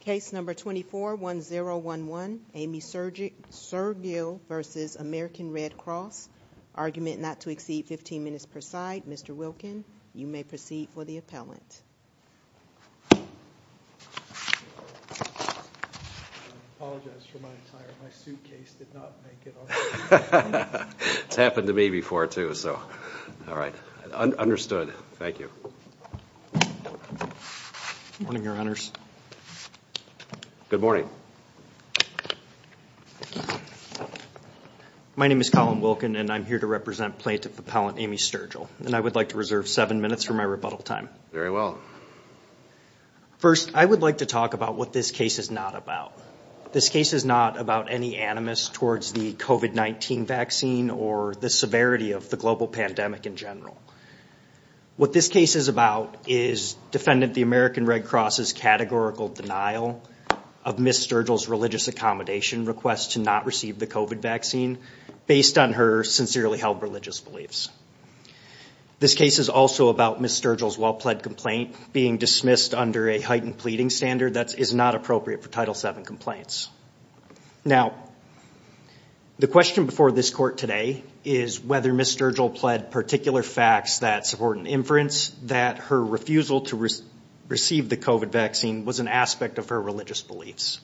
Case number 24-1011, Aimee Sturgill v. American Red Cross. Argument not to exceed 15 minutes per side. Mr. Wilkin, you may proceed for the appellant. I apologize for my attire. My suitcase did not make it on time. It's happened to me before, too. So, all right. Understood. Thank you. Good morning, Your Honors. Good morning. My name is Colin Wilkin, and I'm here to represent Plaintiff Appellant Aimee Sturgill, and I would like to reserve seven minutes for my rebuttal time. Very well. First, I would like to talk about what this case is not about. This case is not about any animus towards the COVID-19 vaccine or the severity of the global pandemic in general. What this case is about is defendant the American Red Cross' categorical denial of Ms. Sturgill's religious accommodation request to not receive the COVID vaccine based on her sincerely held religious beliefs. This case is also about Ms. Sturgill's well-pled complaint being dismissed under a heightened pleading standard that is not appropriate for Title VII complaints. Now, the question before this court today is whether Ms. Sturgill pled particular facts that support an inference that her refusal to receive the COVID vaccine was an aspect of her religious beliefs.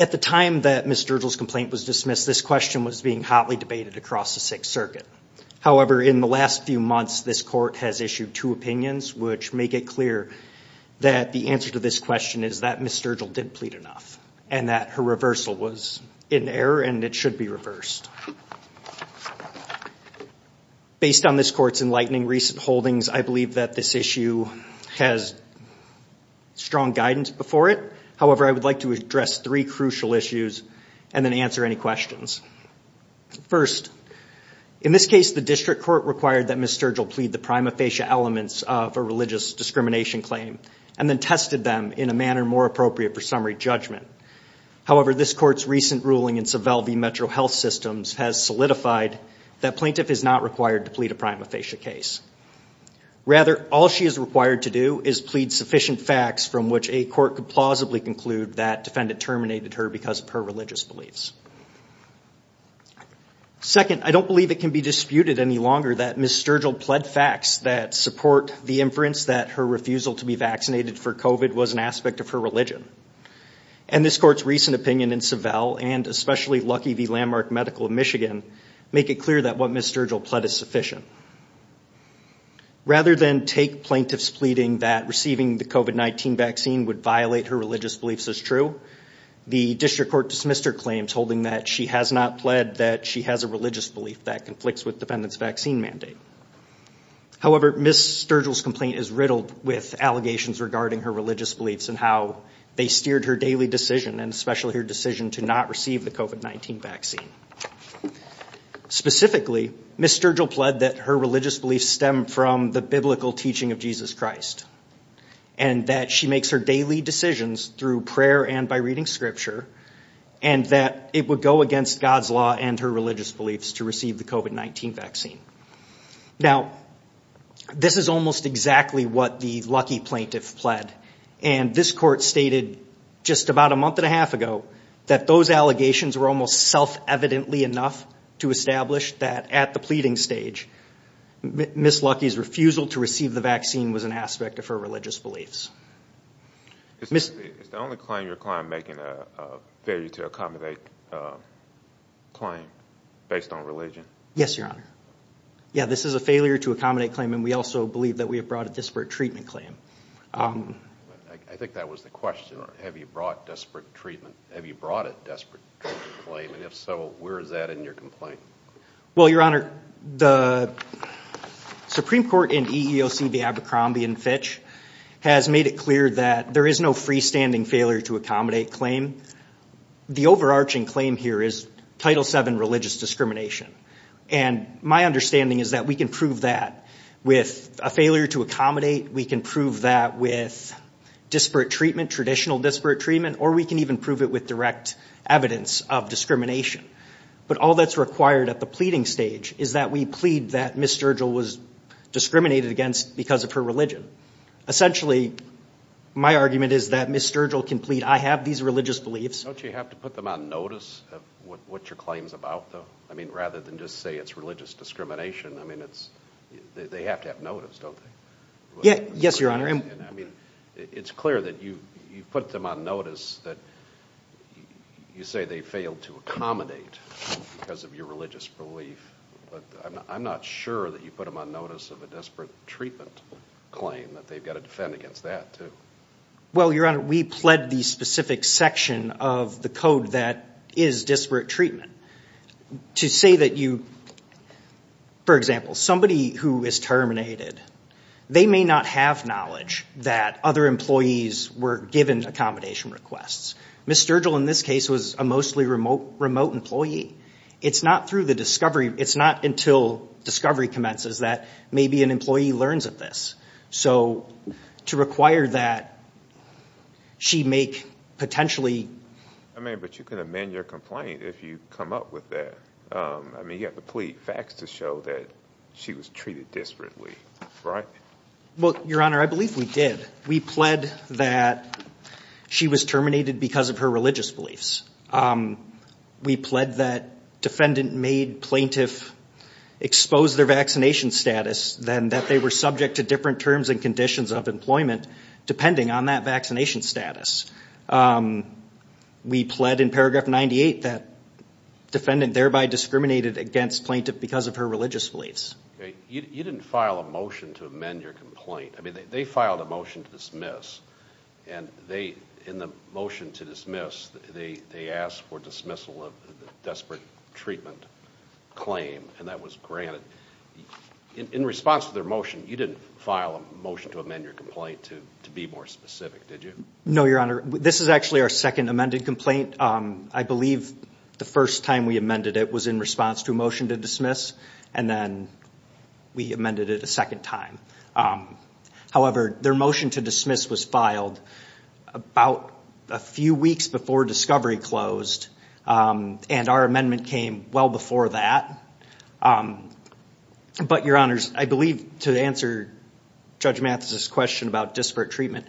At the time that Ms. Sturgill's complaint was dismissed, this question was being hotly debated across the Sixth Circuit. However, in the last few months, this court has issued two opinions which make it clear that the answer to this question is that Ms. Sturgill did plead enough and that her reversal was in error and it should be reversed. Based on this court's enlightening recent holdings, I believe that this issue has strong guidance before it. However, I would like to address three crucial issues and then answer any questions. First, in this case, the district court required that Ms. Sturgill plead the prima facie elements of a religious discrimination claim and then tested them in a manner more appropriate for summary judgment. However, this court's recent ruling in Savelle v. Metro Health Systems has solidified that plaintiff is not required to plead a prima facie case. Rather, all she is required to do is plead sufficient facts from which a court could plausibly conclude that defendant terminated her because of her religious beliefs. Second, I don't believe it can be disputed any longer that Ms. Sturgill pled facts that support the inference that her refusal to be vaccinated for COVID was an aspect of her religion. And this court's recent opinion in Savelle, and especially Lucky v. Landmark Medical of Michigan, make it clear that what Ms. Sturgill pled is sufficient. Rather than take plaintiffs pleading that receiving the COVID-19 vaccine would violate her religious beliefs as true, the district court dismissed her claims holding that she has not pled that she has a religious belief that conflicts with defendant's vaccine mandate. However, Ms. Sturgill's complaint is riddled with allegations regarding her religious beliefs and how they steered her daily decision, and especially her decision to not receive the COVID-19 vaccine. Specifically, Ms. Sturgill pled that her religious beliefs stem from the biblical teaching of Jesus Christ, and that she makes her daily decisions through prayer and by reading scripture, and that it would go against God's law and her religious beliefs to receive the COVID-19 vaccine. Now, this is almost exactly what the Lucky plaintiff pled, and this court stated just about a month and a half ago that those allegations were almost self-evidently enough to establish that at the pleading stage, Ms. Lucky's refusal to receive the vaccine was an aspect of her religious beliefs. Is the only claim you're making a failure to accommodate claim based on religion? Yes, Your Honor. Yeah, this is a failure to accommodate claim, and we also believe that we have brought a desperate treatment claim. I think that was the question. Have you brought a desperate treatment claim? And if so, where is that in your complaint? Well, Your Honor, the Supreme Court in EEOC v. Abercrombie and Fitch has made it clear that there is no freestanding failure to accommodate claim. The overarching claim here is Title VII religious discrimination, and my understanding is that we can prove that with a failure to accommodate. We can prove that with disparate treatment, traditional disparate treatment, or we can even prove it with direct evidence of discrimination. But all that's required at the pleading stage is that we plead that Ms. Sturgill was discriminated against because of her religion. Essentially, my argument is that Ms. Sturgill can plead, I have these religious beliefs. Don't you have to put them on notice of what your claim's about, though? I mean, rather than just say it's religious discrimination, I mean, they have to have notice, don't they? Yes, Your Honor. I mean, it's clear that you put them on notice that you say they failed to accommodate because of your religious belief. But I'm not sure that you put them on notice of a disparate treatment claim, that they've got to defend against that, too. Well, Your Honor, we pled the specific section of the code that is disparate treatment. To say that you, for example, somebody who is terminated, they may not have knowledge that other employees were given accommodation requests. Ms. Sturgill, in this case, was a mostly remote employee. It's not through the discovery, it's not until discovery commences that maybe an employee learns of this. So, to require that she make potentially... I mean, but you can amend your complaint if you come up with that. I mean, you have to plead facts to show that she was treated disparately, right? Well, Your Honor, I believe we did. We pled that she was terminated because of her religious beliefs. We pled that defendant made plaintiff expose their vaccination status, and that they were subject to different terms and conditions of employment depending on that vaccination status. We pled in paragraph 98 that defendant thereby discriminated against plaintiff because of her religious beliefs. You didn't file a motion to amend your complaint. I mean, they filed a motion to dismiss. And they, in the motion to dismiss, they asked for dismissal of the desperate treatment claim, and that was granted. In response to their motion, you didn't file a motion to amend your complaint to be more specific, did you? No, Your Honor. This is actually our second amended complaint. I believe the first time we amended it was in response to a motion to dismiss, and then we amended it a second time. However, their motion to dismiss was filed about a few weeks before discovery closed, and our amendment came well before that. But, Your Honors, I believe to answer Judge Mathis's question about disparate treatment,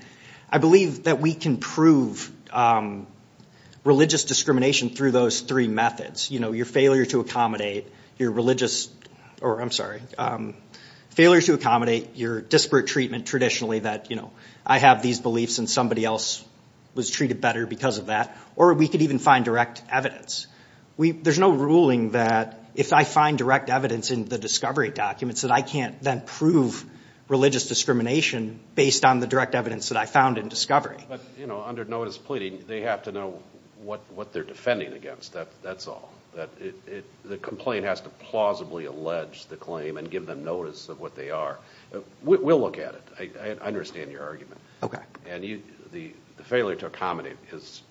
I believe that we can prove religious discrimination through those three methods. You know, your failure to accommodate your religious, or I'm sorry, failure to accommodate your disparate treatment traditionally that, you know, I have these beliefs and somebody else was treated better because of that, or we could even find direct evidence. There's no ruling that if I find direct evidence in the discovery documents that I can't then prove religious discrimination based on the direct evidence that I found in discovery. But, you know, under notice of pleading, they have to know what they're defending against. That's all. The complaint has to plausibly allege the claim and give them notice of what they are. We'll look at it. I understand your argument. And the failure to accommodate is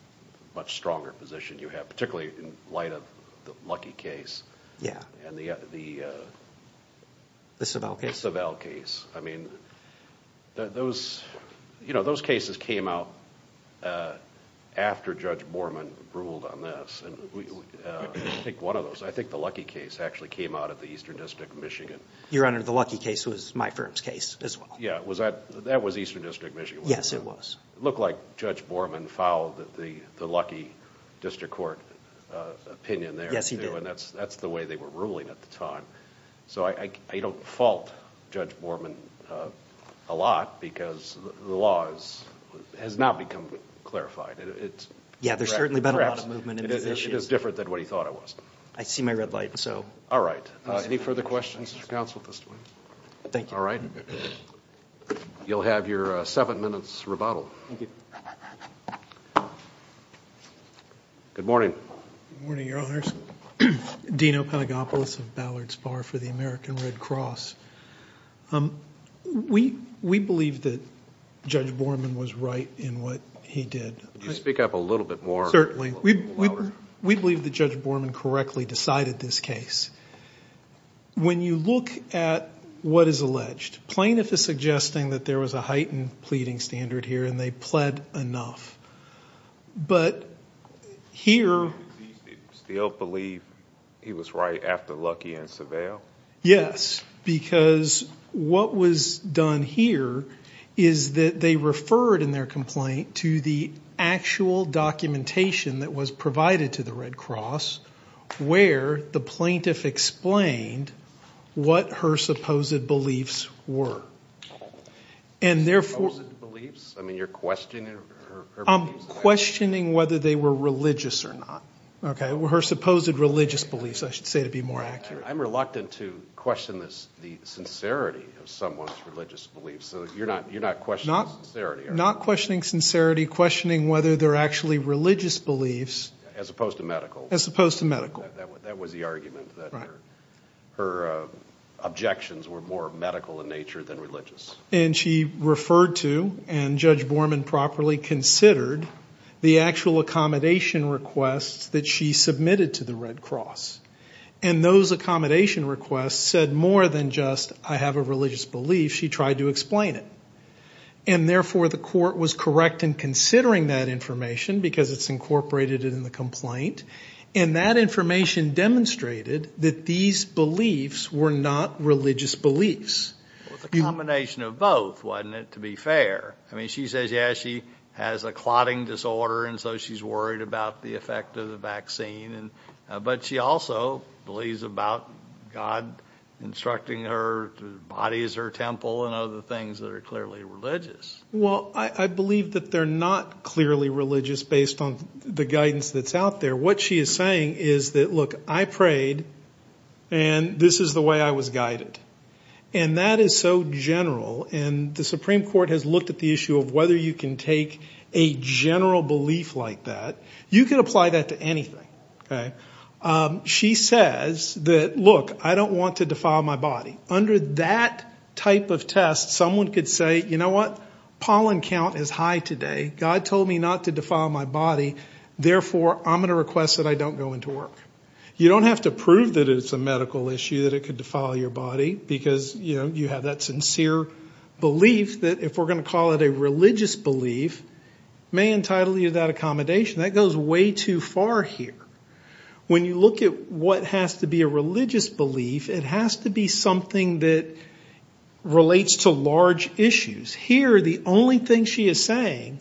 a much stronger position you have, particularly in light of the Lucky case. The Savelle case. The Savelle case. I mean, you know, those cases came out after Judge Borman ruled on this. I think one of those, I think the Lucky case actually came out of the Eastern District of Michigan. Your Honor, the Lucky case was my firm's case as well. Yeah, that was Eastern District of Michigan. Yes, it was. It looked like Judge Borman followed the Lucky District Court opinion there. Yes, he did. And that's the way they were ruling at the time. So I don't fault Judge Borman a lot because the law has not become clarified. Yeah, there's certainly been a lot of movement in those issues. It is different than what he thought it was. I see my red light, so. All right. Any further questions of counsel at this point? Thank you. All right. You'll have your seven minutes rebuttal. Thank you. Good morning. Good morning, Your Honors. Dino Pedagopoulos of Ballard's Bar for the American Red Cross. We believe that Judge Borman was right in what he did. Could you speak up a little bit more? We believe that Judge Borman correctly decided this case. When you look at what is alleged, plaintiff is suggesting that there was a heightened pleading standard here and they pled enough. But here— Do you still believe he was right after Lucky and Savelle? Yes, because what was done here is that they referred in their complaint to the actual documentation that was provided to the Red Cross where the plaintiff explained what her supposed beliefs were. And therefore— Supposed beliefs? I mean, you're questioning her beliefs? I'm questioning whether they were religious or not. Her supposed religious beliefs, I should say, to be more accurate. I'm reluctant to question the sincerity of someone's religious beliefs, so you're not questioning sincerity? Not questioning sincerity, questioning whether they're actually religious beliefs— As opposed to medical. As opposed to medical. That was the argument, that her objections were more medical in nature than religious. And she referred to, and Judge Borman properly considered, the actual accommodation requests that she submitted to the Red Cross. And those accommodation requests said more than just, I have a religious belief. She tried to explain it. And therefore, the court was correct in considering that information because it's incorporated in the complaint. And that information demonstrated that these beliefs were not religious beliefs. It was a combination of both, wasn't it, to be fair? I mean, she says, yeah, she has a clotting disorder and so she's worried about the effect of the vaccine. But she also believes about God instructing her to bodies or temple and other things that are clearly religious. Well, I believe that they're not clearly religious based on the guidance that's out there. What she is saying is that, look, I prayed and this is the way I was guided. And that is so general. And the Supreme Court has looked at the issue of whether you can take a general belief like that. You can apply that to anything. She says that, look, I don't want to defile my body. Under that type of test, someone could say, you know what? Pollen count is high today. God told me not to defile my body. Therefore, I'm going to request that I don't go into work. You don't have to prove that it's a medical issue, that it could defile your body, because, you know, you have that sincere belief that if we're going to call it a religious belief, may entitle you to that accommodation. That goes way too far here. When you look at what has to be a religious belief, it has to be something that relates to large issues. Here, the only thing she is saying,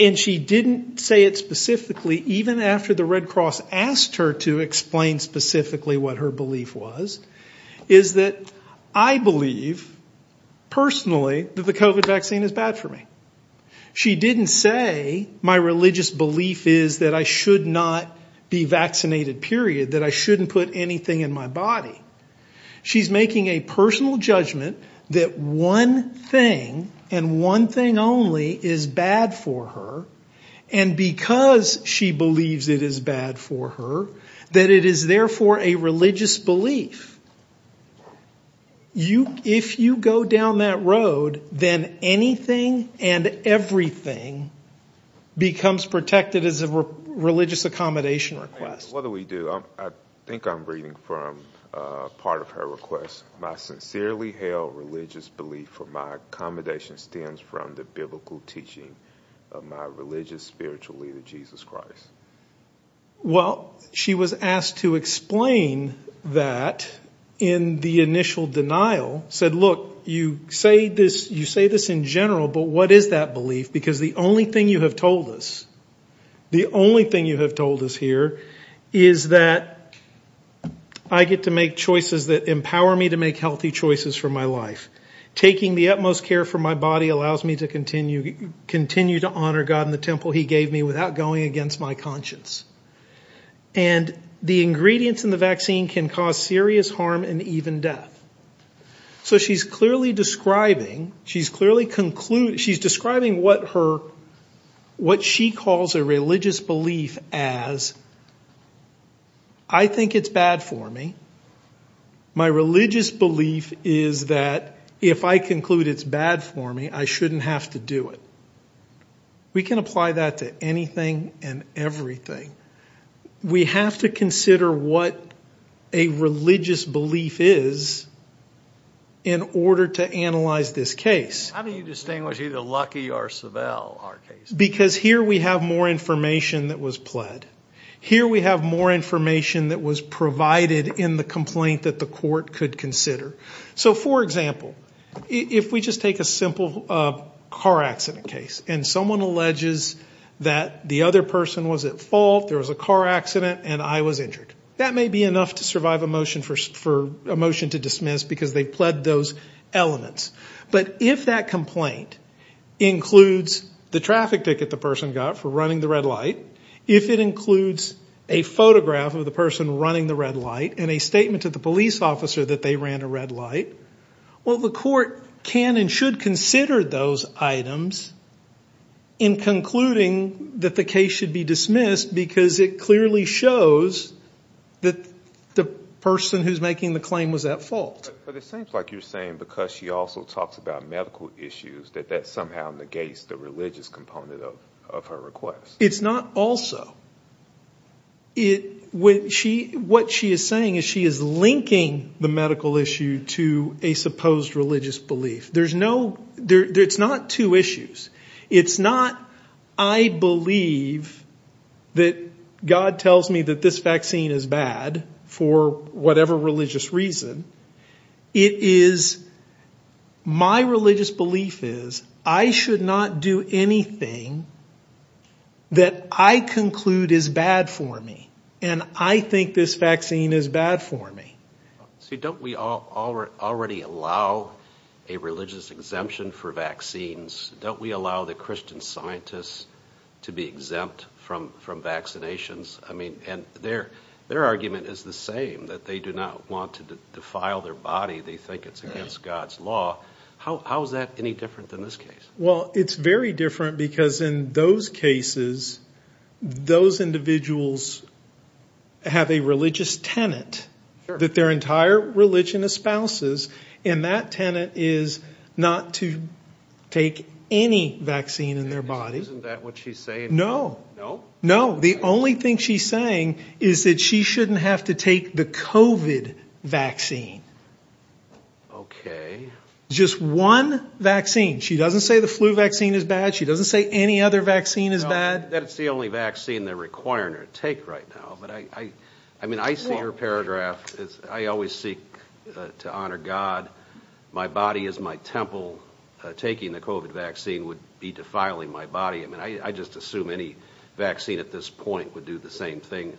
and she didn't say it specifically even after the Red Cross asked her to explain specifically what her belief was, is that I believe personally that the COVID vaccine is bad for me. She didn't say my religious belief is that I should not be vaccinated, period, that I shouldn't put anything in my body. She's making a personal judgment that one thing and one thing only is bad for her, and because she believes it is bad for her, that it is therefore a religious belief. If you go down that road, then anything and everything becomes protected as a religious accommodation request. What do we do? I think I'm reading from part of her request. Well, she was asked to explain that in the initial denial. She said, look, you say this in general, but what is that belief? Because the only thing you have told us, the only thing you have told us here, is that I get to make choices that empower me to make healthy choices for my life. Taking the utmost care for my body allows me to continue to honor God and the temple he gave me without going against my conscience. And the ingredients in the vaccine can cause serious harm and even death. So she's clearly describing what she calls a religious belief as, I think it's bad for me. My religious belief is that if I conclude it's bad for me, I shouldn't have to do it. We can apply that to anything and everything. We have to consider what a religious belief is in order to analyze this case. How do you distinguish either Lucky or Savelle, our case? Because here we have more information that was pled. Here we have more information that was provided in the complaint that the court could consider. So, for example, if we just take a simple car accident case and someone alleges that the other person was at fault, there was a car accident, and I was injured. That may be enough to survive a motion to dismiss because they pled those elements. But if that complaint includes the traffic ticket the person got for running the red light, if it includes a photograph of the person running the red light and a statement to the police officer that they ran a red light, well, the court can and should consider those items in concluding that the case should be dismissed because it clearly shows that the person who's making the claim was at fault. But it seems like you're saying because she also talks about medical issues that that somehow negates the religious component of her request. It's not also. What she is saying is she is linking the medical issue to a supposed religious belief. It's not two issues. It's not I believe that God tells me that this vaccine is bad for whatever religious reason. It is my religious belief is I should not do anything that I conclude is bad for me. And I think this vaccine is bad for me. So don't we all already allow a religious exemption for vaccines? Don't we allow the Christian scientists to be exempt from vaccinations? I mean, and their their argument is the same, that they do not want to defile their body. They think it's against God's law. How is that any different than this case? Well, it's very different because in those cases, those individuals have a religious tenant that their entire religion espouses. And that tenant is not to take any vaccine in their body. Isn't that what she's saying? No, no, no. The only thing she's saying is that she shouldn't have to take the covid vaccine. OK, just one vaccine. She doesn't say the flu vaccine is bad. She doesn't say any other vaccine is bad. That's the only vaccine they're requiring or take right now. But I mean, I see your paragraph. I always seek to honor God. My body is my temple. Taking the covid vaccine would be defiling my body. I mean, I just assume any vaccine at this point would do the same thing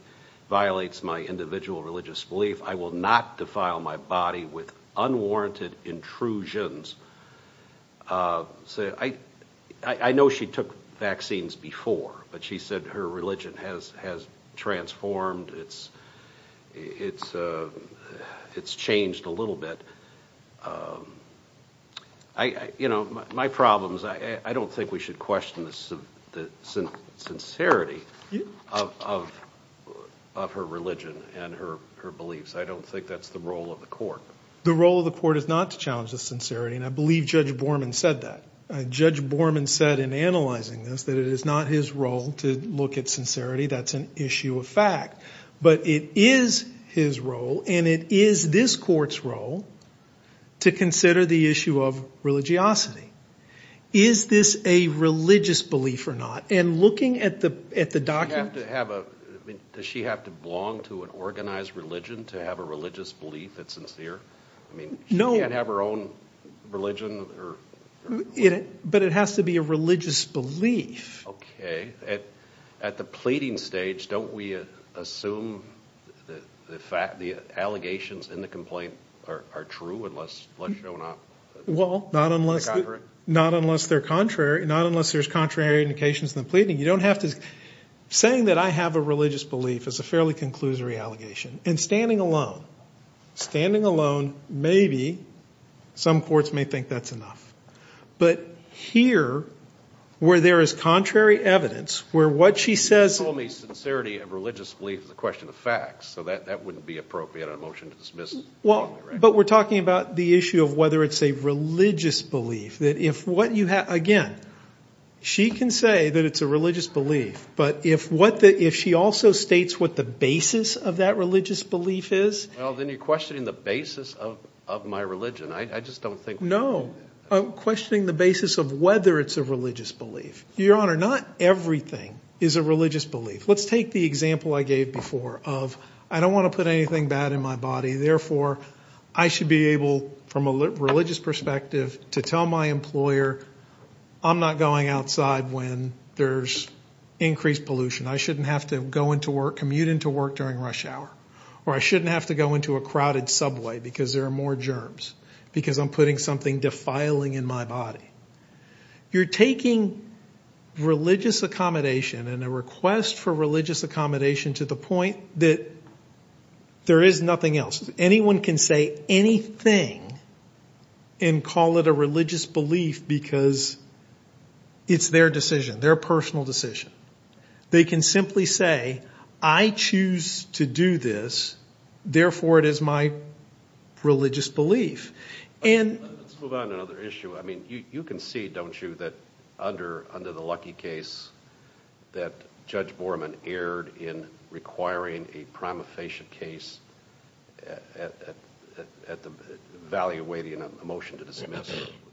violates my individual religious belief. I will not defile my body with unwarranted intrusions. So I know she took vaccines before, but she said her religion has has transformed. It's it's it's changed a little bit. I, you know, my problems, I don't think we should question the sincerity of of her religion and her her beliefs. I don't think that's the role of the court. The role of the court is not to challenge the sincerity. And I believe Judge Borman said that. Judge Borman said in analyzing this, that it is not his role to look at sincerity. That's an issue of fact. But it is his role. And it is this court's role to consider the issue of religiosity. Is this a religious belief or not? And looking at the at the document to have a does she have to belong to an organized religion to have a religious belief? That's sincere. I mean, no, you can't have her own religion. But it has to be a religious belief. Okay. At the pleading stage, don't we assume that the fact the allegations in the complaint are true? Unless you don't know. Well, not unless not unless they're contrary. Not unless there's contrary indications in the pleading. You don't have to saying that I have a religious belief is a fairly conclusory allegation. And standing alone, standing alone, maybe some courts may think that's enough. But here, where there is contrary evidence, where what she says. You told me sincerity of religious belief is a question of facts. So that wouldn't be appropriate on a motion to dismiss. Well, but we're talking about the issue of whether it's a religious belief that if what you have. Again, she can say that it's a religious belief. But if what if she also states what the basis of that religious belief is. Well, then you're questioning the basis of my religion. I just don't think. No. Questioning the basis of whether it's a religious belief. Your Honor, not everything is a religious belief. Let's take the example I gave before of I don't want to put anything bad in my body. Therefore, I should be able from a religious perspective to tell my employer I'm not going outside when there's increased pollution. I shouldn't have to go into work, commute into work during rush hour. Or I shouldn't have to go into a crowded subway because there are more germs. Because I'm putting something defiling in my body. You're taking religious accommodation and a request for religious accommodation to the point that there is nothing else. Anyone can say anything and call it a religious belief because it's their decision, their personal decision. They can simply say I choose to do this. Therefore, it is my religious belief. Let's move on to another issue. I mean you can see, don't you, that under the lucky case that Judge Borman erred in requiring a prima facie case at the valley of waiting on a motion to dismiss.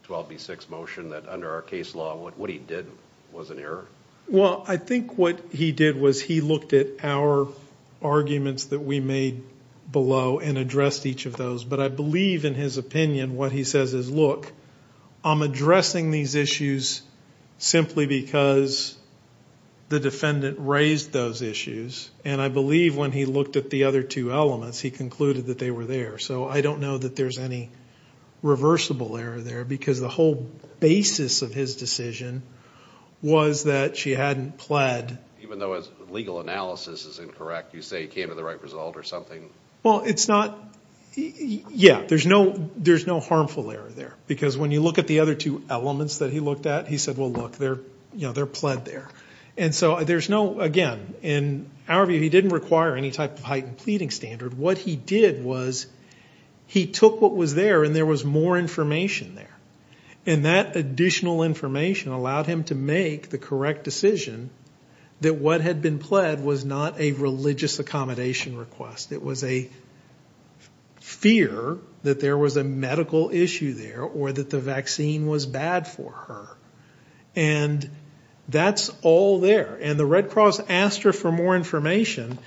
12B6 motion that under our case law what he did was an error. Well, I think what he did was he looked at our arguments that we made below and addressed each of those. But I believe in his opinion what he says is look, I'm addressing these issues simply because the defendant raised those issues. And I believe when he looked at the other two elements he concluded that they were there. So I don't know that there's any reversible error there because the whole basis of his decision was that she hadn't pled. Even though his legal analysis is incorrect, you say he came to the right result or something? Well, it's not, yeah, there's no harmful error there. Because when you look at the other two elements that he looked at he said, well, look, they're pled there. And so there's no, again, in our view he didn't require any type of heightened pleading standard. What he did was he took what was there and there was more information there. And that additional information allowed him to make the correct decision that what had been pled was not a religious accommodation request. It was a fear that there was a medical issue there or that the vaccine was bad for her. And that's all there. And the Red Cross asked her for more information.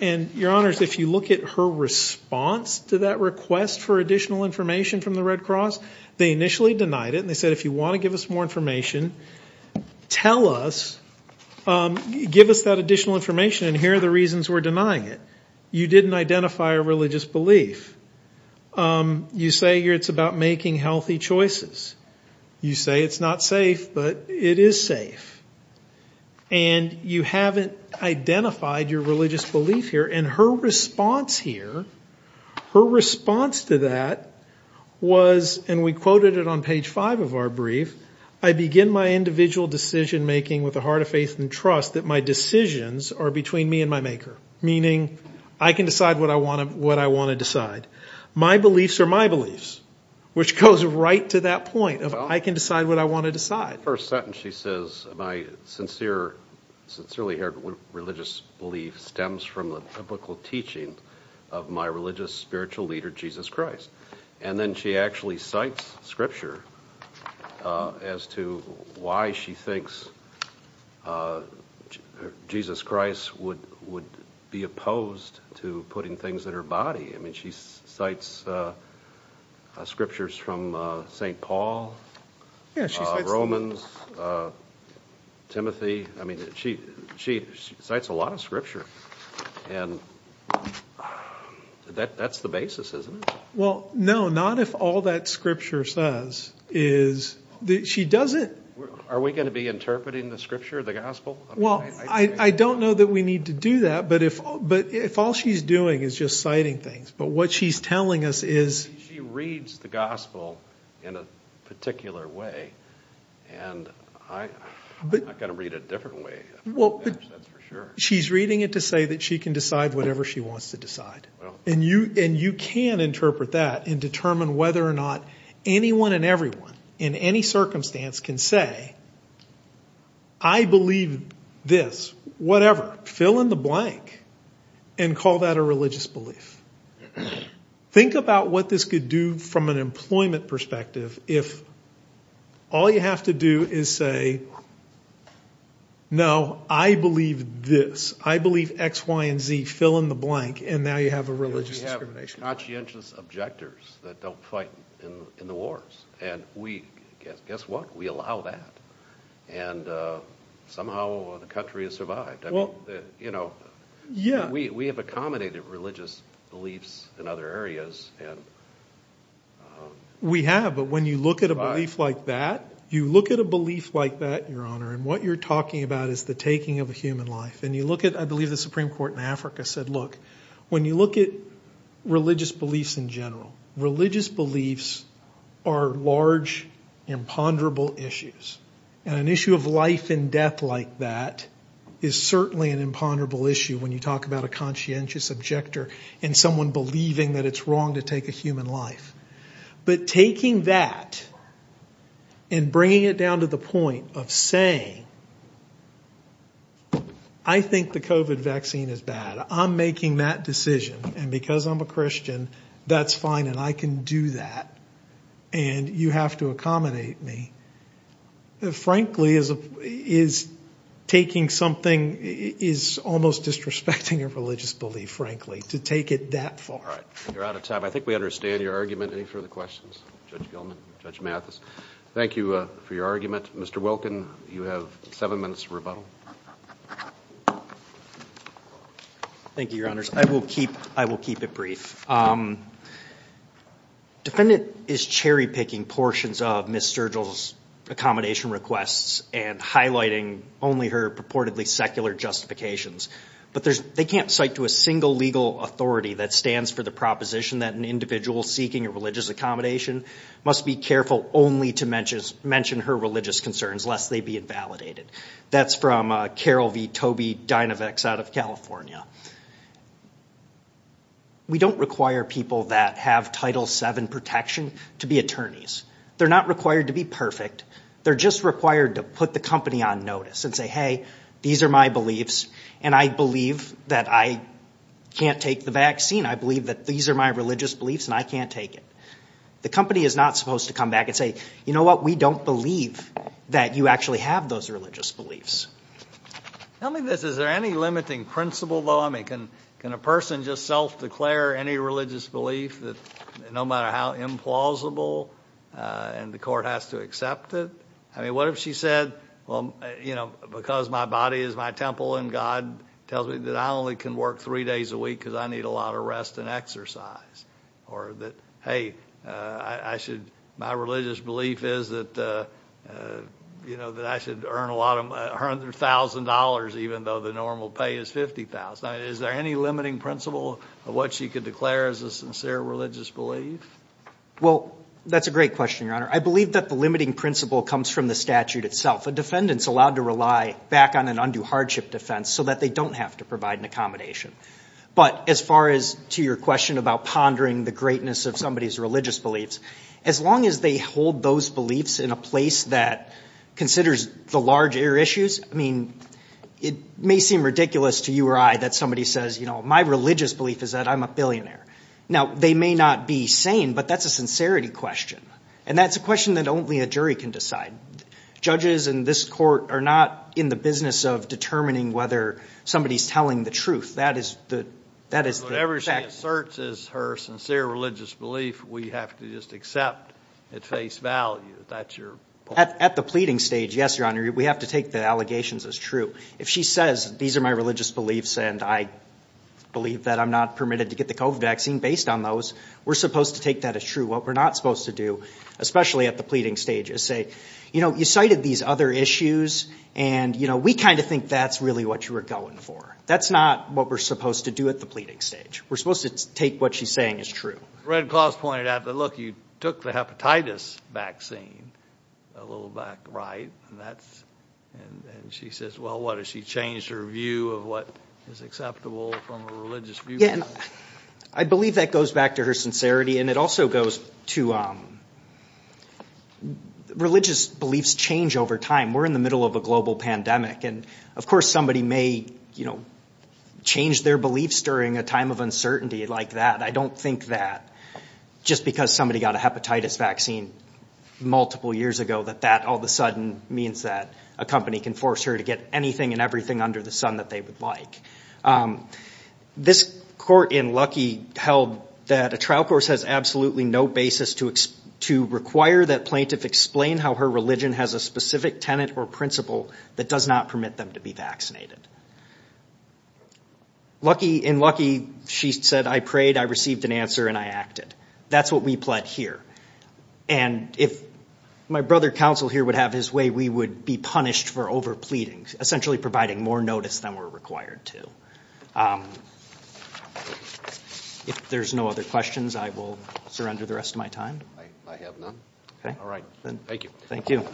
And, Your Honors, if you look at her response to that request for additional information from the Red Cross, they initially denied it. And they said, if you want to give us more information, tell us, give us that additional information. And here are the reasons we're denying it. You didn't identify a religious belief. You say it's about making healthy choices. You say it's not safe, but it is safe. And you haven't identified your religious belief here. And her response here, her response to that was, and we quoted it on page five of our brief, I begin my individual decision making with a heart of faith and trust that my decisions are between me and my maker. Meaning I can decide what I want to decide. My beliefs are my beliefs, which goes right to that point of I can decide what I want to decide. In that first sentence she says, my sincere, sincerely heard religious belief stems from the biblical teaching of my religious spiritual leader, Jesus Christ. And then she actually cites scripture as to why she thinks Jesus Christ would be opposed to putting things in her body. I mean, she cites scriptures from St. Paul, Romans, Timothy. I mean, she cites a lot of scripture. And that's the basis, isn't it? Well, no, not if all that scripture says is that she doesn't. Are we going to be interpreting the scripture, the gospel? Well, I don't know that we need to do that, but if all she's doing is just citing things, but what she's telling us is. She reads the gospel in a particular way, and I've got to read it a different way. Well, she's reading it to say that she can decide whatever she wants to decide. And you can interpret that and determine whether or not anyone and everyone in any circumstance can say, I believe this, whatever, fill in the blank, and call that a religious belief. Think about what this could do from an employment perspective if all you have to do is say, no, I believe this. I believe X, Y, and Z, fill in the blank, and now you have a religious discrimination. We have conscientious objectors that don't fight in the wars, and guess what? We allow that, and somehow the country has survived. I mean, we have accommodated religious beliefs in other areas. We have, but when you look at a belief like that, you look at a belief like that, Your Honor, and what you're talking about is the taking of a human life. And you look at, I believe the Supreme Court in Africa said, look, when you look at religious beliefs in general, religious beliefs are large, imponderable issues. And an issue of life and death like that is certainly an imponderable issue when you talk about a conscientious objector and someone believing that it's wrong to take a human life. But taking that and bringing it down to the point of saying, I think the COVID vaccine is bad. I'm making that decision, and because I'm a Christian, that's fine, and I can do that, and you have to accommodate me, frankly, is taking something, is almost disrespecting a religious belief, frankly, to take it that far. All right. You're out of time. I think we understand your argument. Any further questions? Judge Gilman? Judge Mathis? Thank you for your argument. Mr. Wilkin, you have seven minutes for rebuttal. Thank you, Your Honors. I will keep it brief. Defendant is cherry-picking portions of Ms. Sturgill's accommodation requests and highlighting only her purportedly secular justifications. But they can't cite to a single legal authority that stands for the proposition that an individual seeking a religious accommodation must be careful only to mention her religious concerns, lest they be invalidated. That's from Carol V. Toby Dynavex out of California. We don't require people that have Title VII protection to be attorneys. They're not required to be perfect. They're just required to put the company on notice and say, hey, these are my beliefs, and I believe that I can't take the vaccine. I believe that these are my religious beliefs, and I can't take it. The company is not supposed to come back and say, you know what, we don't believe that you actually have those religious beliefs. Tell me this. Is there any limiting principle, though? I mean, can a person just self-declare any religious belief, no matter how implausible, and the court has to accept it? I mean, what if she said, well, you know, because my body is my temple and God tells me that I only can work three days a week because I need a lot of rest and exercise? Or that, hey, my religious belief is that I should earn $100,000 even though the normal pay is $50,000. Is there any limiting principle of what she could declare as a sincere religious belief? Well, that's a great question, Your Honor. I believe that the limiting principle comes from the statute itself. A defendant is allowed to rely back on an undue hardship defense so that they don't have to provide an accommodation. But as far as to your question about pondering the greatness of somebody's religious beliefs, as long as they hold those beliefs in a place that considers the larger issues, I mean, it may seem ridiculous to you or I that somebody says, you know, my religious belief is that I'm a billionaire. Now, they may not be sane, but that's a sincerity question, and that's a question that only a jury can decide. Judges in this court are not in the business of determining whether somebody is telling the truth. Whatever she asserts is her sincere religious belief, we have to just accept at face value. At the pleading stage, yes, Your Honor, we have to take the allegations as true. If she says these are my religious beliefs and I believe that I'm not permitted to get the COVID vaccine based on those, we're supposed to take that as true. What we're not supposed to do, especially at the pleading stage, is say, you know, you cited these other issues, and, you know, we kind of think that's really what you were going for. That's not what we're supposed to do at the pleading stage. We're supposed to take what she's saying as true. Red Claws pointed out that, look, you took the hepatitis vaccine a little back right, and that's, and she says, well, what, has she changed her view of what is acceptable from a religious view? I believe that goes back to her sincerity. And it also goes to religious beliefs change over time. We're in the middle of a global pandemic. And, of course, somebody may, you know, change their beliefs during a time of uncertainty like that. I don't think that just because somebody got a hepatitis vaccine multiple years ago that that all of a sudden means that a company can force her to get anything and everything under the sun that they would like. This court in Lucky held that a trial course has absolutely no basis to require that plaintiff explain how her religion has a specific tenet or principle that does not permit them to be vaccinated. In Lucky, she said, I prayed, I received an answer, and I acted. That's what we pled here. And if my brother counsel here would have his way, we would be punished for over pleading, essentially providing more notice than we're required to. If there's no other questions, I will surrender the rest of my time. I have none. All right. Thank you. Thank you.